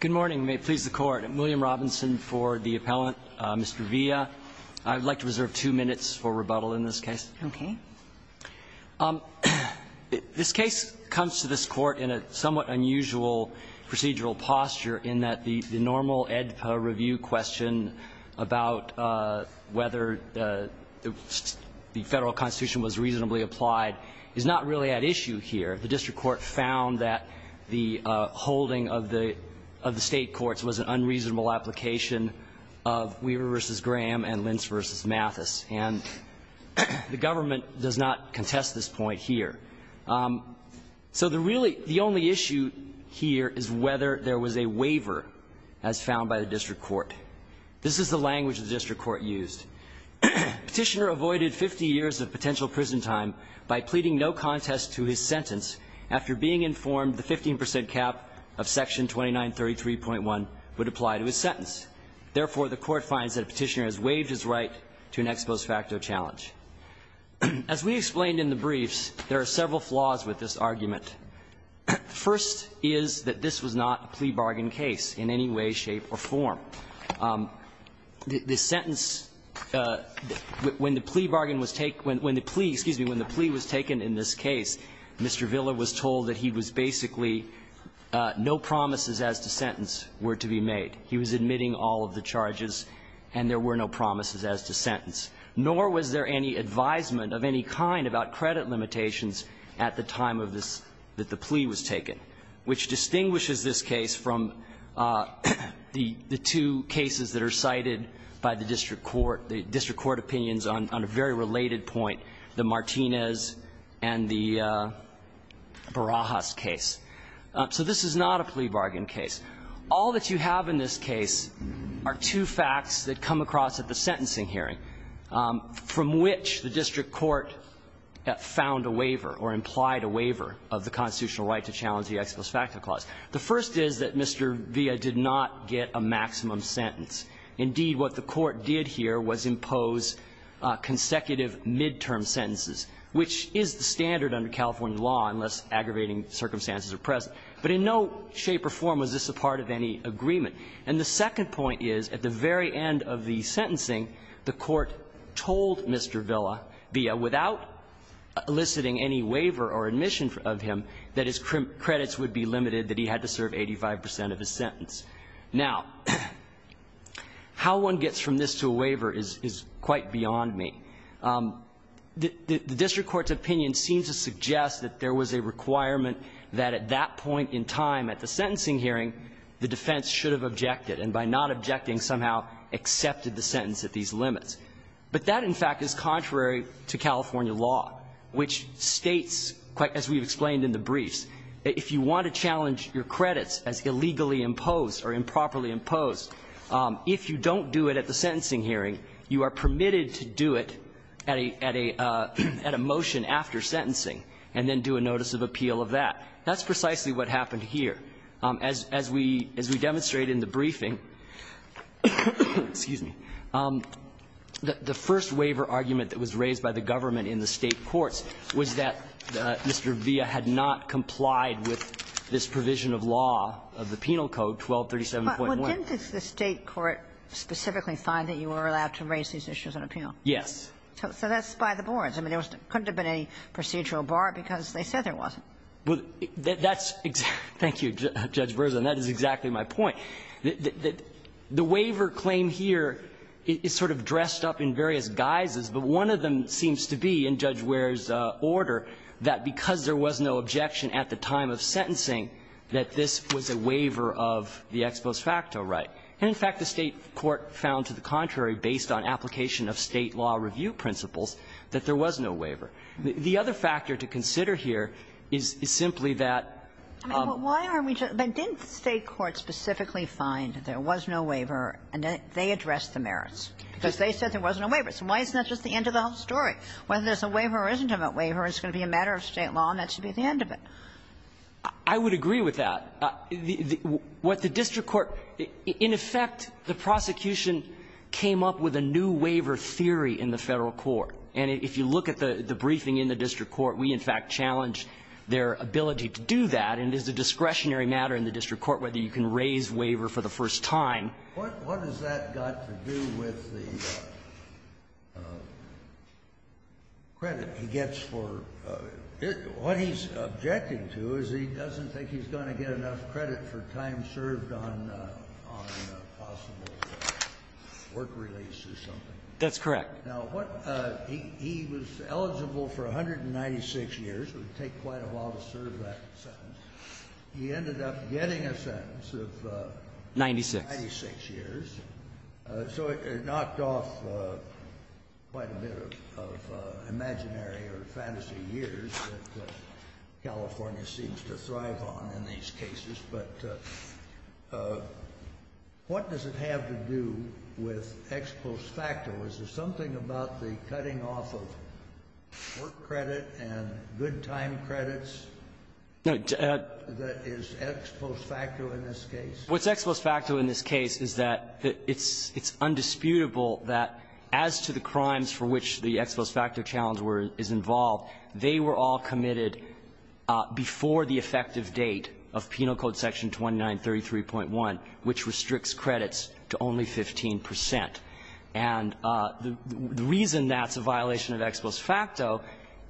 Good morning, and may it please the Court. I'm William Robinson for the Appellant, Mr. Villa. I would like to reserve two minutes for rebuttal in this case. Okay. This case comes to this Court in a somewhat unusual procedural posture, in that the normal Edpa review question about whether the Federal Constitution was reasonably applied is not really at issue here. The District Court found that the holding of the State courts was an unreasonable application of Weaver v. Graham and Lentz v. Mathis. And the government does not contest this point here. So the only issue here is whether there was a waiver, as found by the District Court. This is the language the District Court used. Petitioner avoided 50 years of potential prison time by pleading no contest to his sentence after being informed the 15 percent cap of Section 2933.1 would apply to his sentence. Therefore, the Court finds that a petitioner has waived his right to an ex post facto challenge. As we explained in the briefs, there are several flaws with this argument. First is that this was not a plea bargain case in any way, shape, or form. The sentence when the plea bargain was taken, when the plea, excuse me, when the plea was taken in this case, Mr. Villa was told that he was basically no promises as to sentence were to be made. He was admitting all of the charges and there were no promises as to sentence. Nor was there any advisement of any kind about credit limitations at the time of this that the plea was taken, which distinguishes this case from the two cases that are cited by the District Court, the District Court opinions on a very related point, the Martinez and the Barajas case. So this is not a plea bargain case. All that you have in this case are two facts that come across at the sentencing hearing. From which the District Court found a waiver or implied a waiver of the constitutional right to challenge the ex post facto clause. The first is that Mr. Villa did not get a maximum sentence. Indeed, what the Court did here was impose consecutive midterm sentences, which is the standard under California law, unless aggravating circumstances are present. But in no shape or form was this a part of any agreement. And the second point is, at the very end of the sentencing, the Court told Mr. Villa, via without eliciting any waiver or admission of him, that his credits would be limited, that he had to serve 85 percent of his sentence. Now, how one gets from this to a waiver is quite beyond me. The District Court's opinion seems to suggest that there was a requirement that at that point in time at the sentencing hearing, the defense should have agreed or objected, and by not objecting, somehow accepted the sentence at these limits. But that, in fact, is contrary to California law, which states, as we've explained in the briefs, if you want to challenge your credits as illegally imposed or improperly imposed, if you don't do it at the sentencing hearing, you are permitted to do it at a motion after sentencing, and then do a notice of appeal of that. That's precisely what happened here. As we demonstrated in the briefing, excuse me, the first waiver argument that was raised by the government in the State courts was that Mr. Villa had not complied with this provision of law of the Penal Code, 1237.1. Kagan. But didn't the State court specifically find that you were allowed to raise these issues on appeal? Yes. So that's by the boards. I mean, there couldn't have been any procedural bar because they said there wasn't. Well, that's exactly – thank you, Judge Berza, and that is exactly my point. The waiver claim here is sort of dressed up in various guises, but one of them seems to be, in Judge Ware's order, that because there was no objection at the time of sentencing, that this was a waiver of the ex post facto right. And, in fact, the State court found, to the contrary, based on application of State law review principles, that there was no waiver. The other factor to consider here is simply that – But why are we – but didn't the State court specifically find that there was no waiver and that they addressed the merits? Because they said there was no waiver. So why isn't that just the end of the whole story? Whether there's a waiver or isn't a waiver is going to be a matter of State law, and that should be the end of it. I would agree with that. What the district court – in effect, the prosecution came up with a new waiver theory in the Federal court. And if you look at the briefing in the district court, we, in fact, challenged their ability to do that, and it is a discretionary matter in the district court whether you can raise waiver for the first time. What has that got to do with the credit he gets for – what he's objecting to is he doesn't think he's going to get enough credit for time served on a possible work release or something. That's correct. Now, what – he was eligible for 196 years. It would take quite a while to serve that sentence. He ended up getting a sentence of 96 years. Ninety-six. So it knocked off quite a bit of imaginary or fantasy years that California seems to thrive on in these cases. But what does it have to do with ex post facto? Is there something about the cutting off of work credit and good time credits that is ex post facto in this case? What's ex post facto in this case is that it's undisputable that as to the crimes for which the ex post facto challenge is involved, they were all committed before the effective date of Penal Code Section 2933.1, which restricts credits to only 15 percent. And the reason that's a violation of ex post facto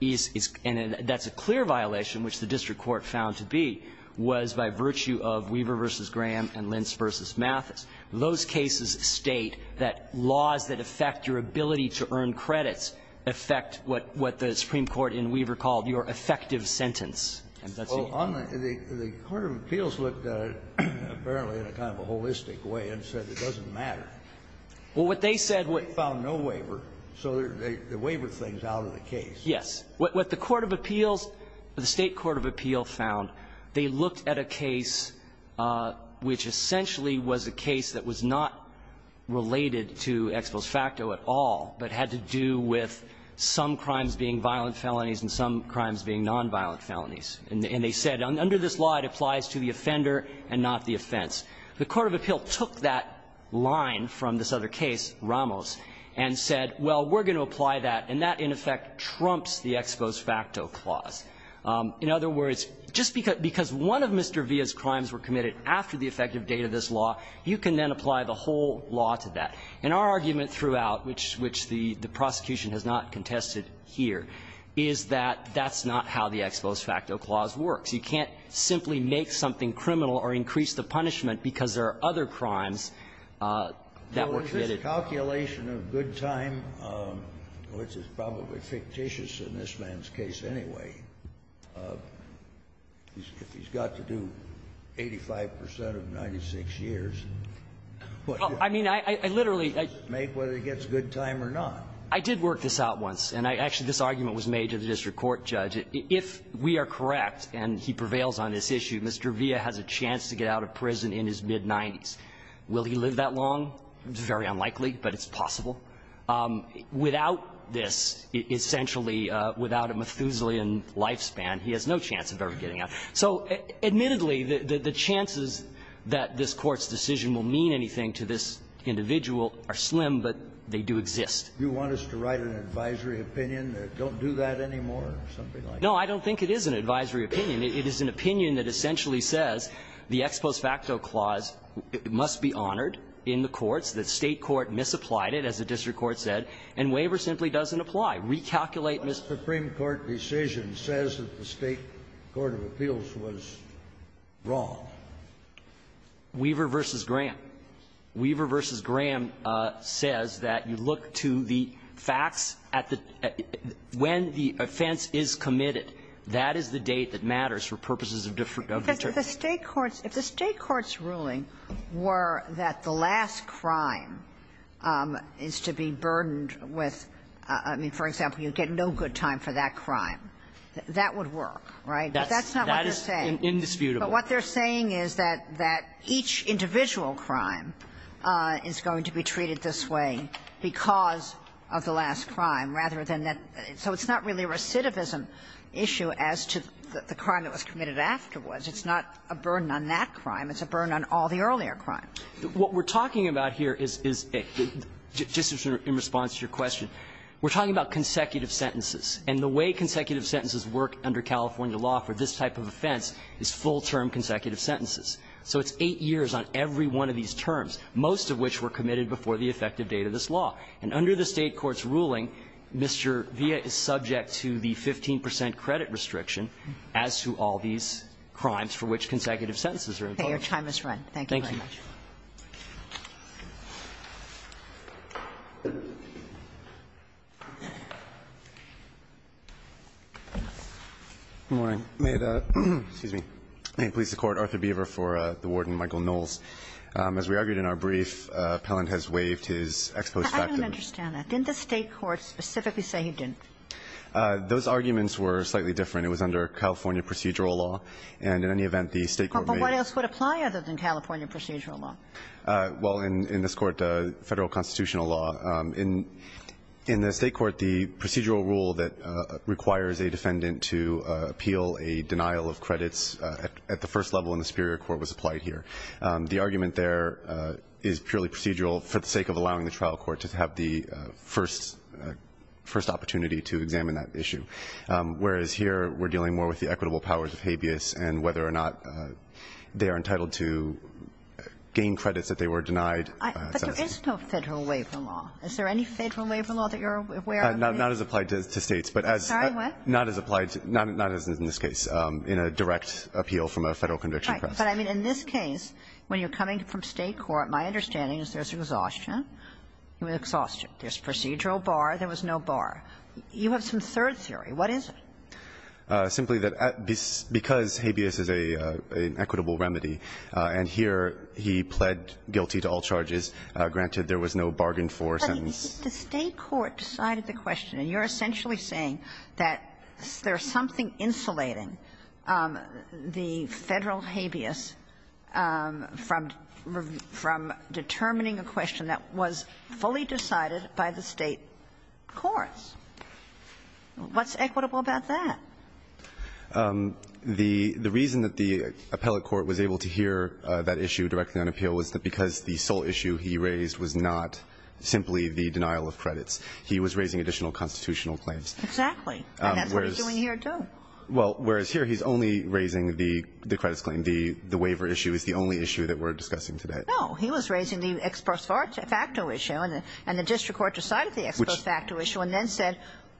is – and that's a clear violation, which the district court found to be – was by virtue of Weaver v. Graham and Lentz v. Mathis. Those cases state that laws that affect your ability to earn credits affect what the Supreme Court in Weaver called your effective sentence. And that's a – Well, on the – the court of appeals looked at it, apparently, in a kind of a holistic way, and said it doesn't matter. Well, what they said – They found no waiver, so they wavered things out of the case. Yes. What the court of appeals – the State court of appeal found, they looked at a case which essentially was a case that was not related to ex post facto at all, but had to do with some crimes being violent felonies and some crimes being nonviolent felonies. And they said under this law, it applies to the offender and not the offense. The court of appeal took that line from this other case, Ramos, and said, well, we're going to apply that, and that, in effect, trumps the ex post facto clause. In other words, just because – because one of Mr. Villa's crimes were committed after the effective date of this law, you can then apply the whole law to that. And our argument throughout, which the prosecution has not contested here, is that that's not how the ex post facto clause works. You can't simply make something criminal or increase the punishment because there are other crimes that were committed. Well, is this a calculation of good time, which is probably fictitious in this man's case anyway, if he's got to do 85 percent of 96 years? Well, I mean, I literally – Make whether it gets good time or not. I did work this out once. And I actually – this argument was made to the district court, Judge. If we are correct and he prevails on this issue, Mr. Villa has a chance to get out of prison in his mid-90s. Will he live that long? It's very unlikely, but it's possible. Without this, essentially, without a Methuselah-ian lifespan, he has no chance of ever getting out. So admittedly, the chances that this Court's decision will mean anything to this individual are slim, but they do exist. Do you want us to write an advisory opinion that don't do that anymore or something like that? No, I don't think it is an advisory opinion. It is an opinion that essentially says the ex post facto clause must be honored in the courts, that State court misapplied it, as the district court said, and waiver simply doesn't apply. Recalculate, Ms. — Scalia, what Supreme Court decision says that the State court of appeals was wrong? Weaver v. Graham. Weaver v. Graham says that you look to the facts at the – when the offense is committed, that is the date that matters for purposes of different – of the district. If the State court's ruling were that the last crime is to be burdened with, I mean, for example, you get no good time for that crime, that would work, right? But that's not what they're saying. That is indisputable. But what they're saying is that each individual crime is going to be treated this way because of the last crime, rather than that – so it's not really a recidivism issue as to the crime that was committed afterwards. It's not a burden on that crime. It's a burden on all the earlier crimes. What we're talking about here is a – just in response to your question, we're talking about consecutive sentences. And the way consecutive sentences work under California law for this type of offense is full-term consecutive sentences. So it's eight years on every one of these terms, most of which were committed before the effective date of this law. And under the State court's ruling, Mr. Villa is subject to the 15 percent credit restriction as to all these crimes for which consecutive sentences are involved. Kagan. Roberts. Thank you very much. Good morning. May it – excuse me – please support Arthur Beaver for the Warden Michael Knowles. As we argued in our brief, Pelland has waived his ex post facto – But I don't understand that. Didn't the State court specifically say he didn't? Those arguments were slightly different. It was under California procedural law. And in any event, the State court may – But what else would apply other than California procedural law? Well, in this Court, Federal constitutional law. In the State court, the procedural rule that requires a defendant to appeal a denial of credits at the first level in the superior court was applied here. The argument there is purely procedural for the sake of allowing the trial court to have the first – first opportunity to examine that issue. Whereas here, we're dealing more with the equitable powers of habeas and whether or not they are entitled to gain credits that they were denied. But there is no Federal waiver law. Is there any Federal waiver law that you're aware of? Not as applied to States. Sorry, what? Not as applied – not as in this case, in a direct appeal from a Federal conviction press. Right. But I mean, in this case, when you're coming from State court, my understanding is there's exhaustion. Exhaustion. There's procedural bar. There was no bar. You have some third theory. What is it? Simply that because habeas is an equitable remedy, and here he pled guilty to all charges, granted there was no bargain force and the State court decided the question and you're essentially saying that there's something insulating the Federal habeas from determining a question that was fully decided by the State courts. What's equitable about that? The reason that the appellate court was able to hear that issue directly on appeal was that because the sole issue he raised was not simply the denial of credits. He was raising additional constitutional claims. Exactly. And that's what he's doing here, too. Well, whereas here he's only raising the credits claim. The waiver issue is the only issue that we're discussing today. No. He was raising the ex post facto issue, and the district court decided the ex post facto issue,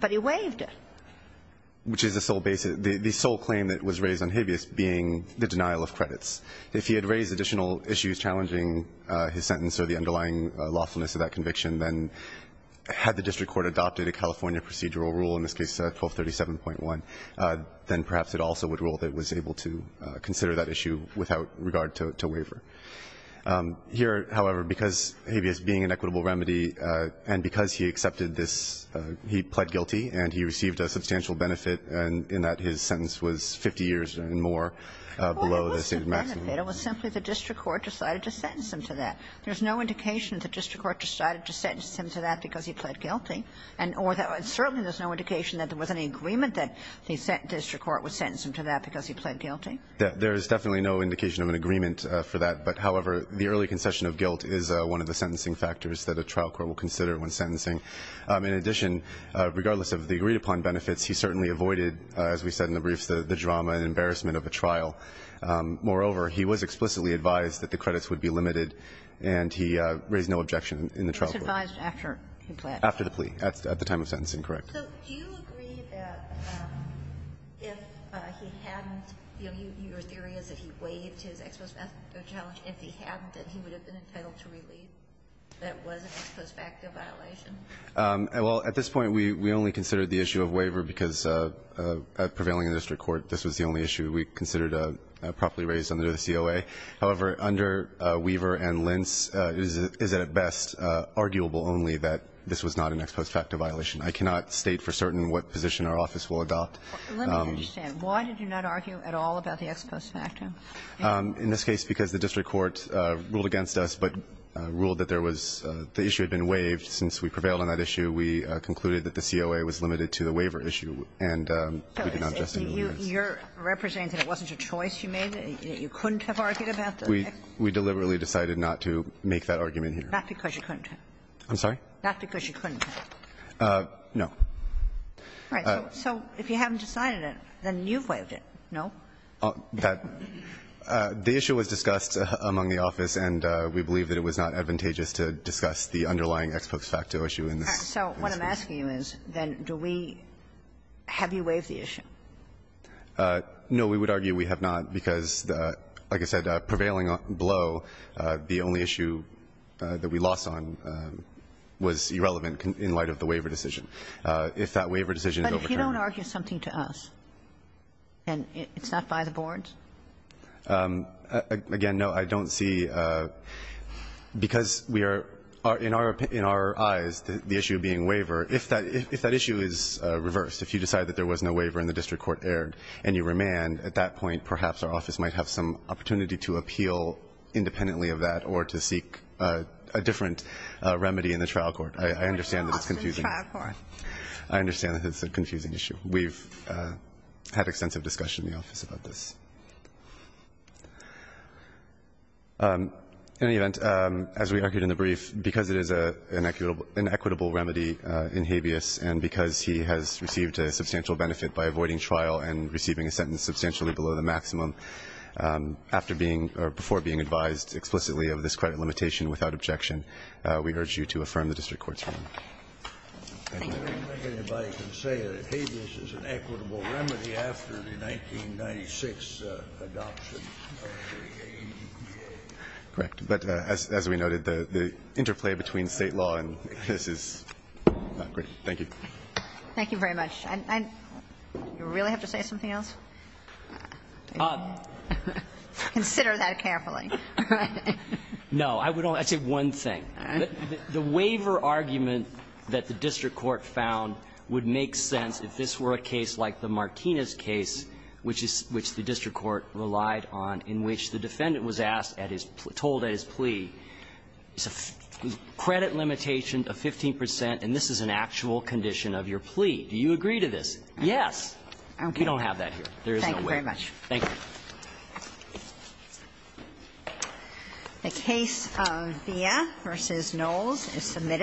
but he waived it. Which is the sole claim that was raised on habeas being the denial of credits. If he had raised additional issues challenging his sentence or the underlying lawfulness of that conviction, then had the district court adopted a California procedural rule, in this case 1237.1, then perhaps it also would rule that it was able to consider that issue without regard to waiver. Here, however, because habeas being an equitable remedy, and because he accepted this, he pled guilty, and he received a substantial benefit in that his sentence was 50 years and more below the stated maximum. Well, it wasn't a benefit. It was simply the district court decided to sentence him to that. There's no indication the district court decided to sentence him to that because he pled guilty, and certainly there's no indication that there was any agreement that the district court would sentence him to that because he pled guilty. There's definitely no indication of an agreement for that, but, however, the early concession of guilt is one of the sentencing factors that a trial court will consider when sentencing. In addition, regardless of the agreed-upon benefits, he certainly avoided, as we said in the briefs, the drama and embarrassment of a trial. Moreover, he was explicitly advised that the credits would be limited, and he raised no objection in the trial court. He was advised after he pled guilty. After the plea, at the time of sentencing, correct. So do you agree that if he hadn't, you know, your theory is that he waived his ex post facto challenge. If he hadn't, then he would have been entitled to relieve. That was an ex post facto violation. Well, at this point, we only considered the issue of waiver because prevailing in the district court, this was the only issue we considered properly raised under the COA. However, under Weaver and Lentz, it is at best arguable only that this was not an ex post facto violation. I cannot state for certain what position our office will adopt. Let me understand. Why did you not argue at all about the ex post facto? In this case, because the district court ruled against us, but ruled that there was the issue had been waived. Since we prevailed on that issue, we concluded that the COA was limited to the waiver issue, and we did not justify the waiver. So you're representing that it wasn't a choice you made, that you couldn't have argued about the ex post facto? We deliberately decided not to make that argument here. Not because you couldn't have. I'm sorry? Not because you couldn't have. No. All right. So if you haven't decided it, then you've waived it. No? That the issue was discussed among the office, and we believe that it was not advantageous to discuss the underlying ex post facto issue in this case. So what I'm asking you is, then, do we – have you waived the issue? No. We would argue we have not because, like I said, prevailing below, the only issue that we lost on was irrelevant in light of the waiver decision. If that waiver decision is overturned. But if you don't argue something to us, and it's not by the boards? Again, no. I don't see – because we are – in our eyes, the issue being waiver, if that issue is reversed, if you decide that there was no waiver and the district court erred and you remand, at that point, perhaps our office might have some opportunity to appeal independently of that or to seek a different remedy in the trial court. I understand that it's confusing. In the trial court. I understand that it's a confusing issue. We've had extensive discussion in the office about this. In any event, as we argued in the brief, because it is an equitable remedy in habeas and because he has received a substantial benefit by avoiding trial and receiving a sentence substantially below the maximum, after being – or before being advised explicitly of this credit limitation without objection, we urge you to affirm the district court's ruling. Thank you. I don't think anybody can say that habeas is an equitable remedy after the 1996 adoption of the ADPA. Correct. But as we noted, the interplay between State law and this is not great. Thank you. Thank you very much. You really have to say something else? Consider that carefully. No. I would only say one thing. The waiver argument that the district court found would make sense if this were a case like the Martinez case, which the district court relied on, in which the defendant was asked at his – told at his plea, credit limitation of 15 percent and this is an actual condition of your plea. Do you agree to this? Yes. Okay. We don't have that here. There is no waiver. Thank you very much. The case of Villa v. Knowles is submitted.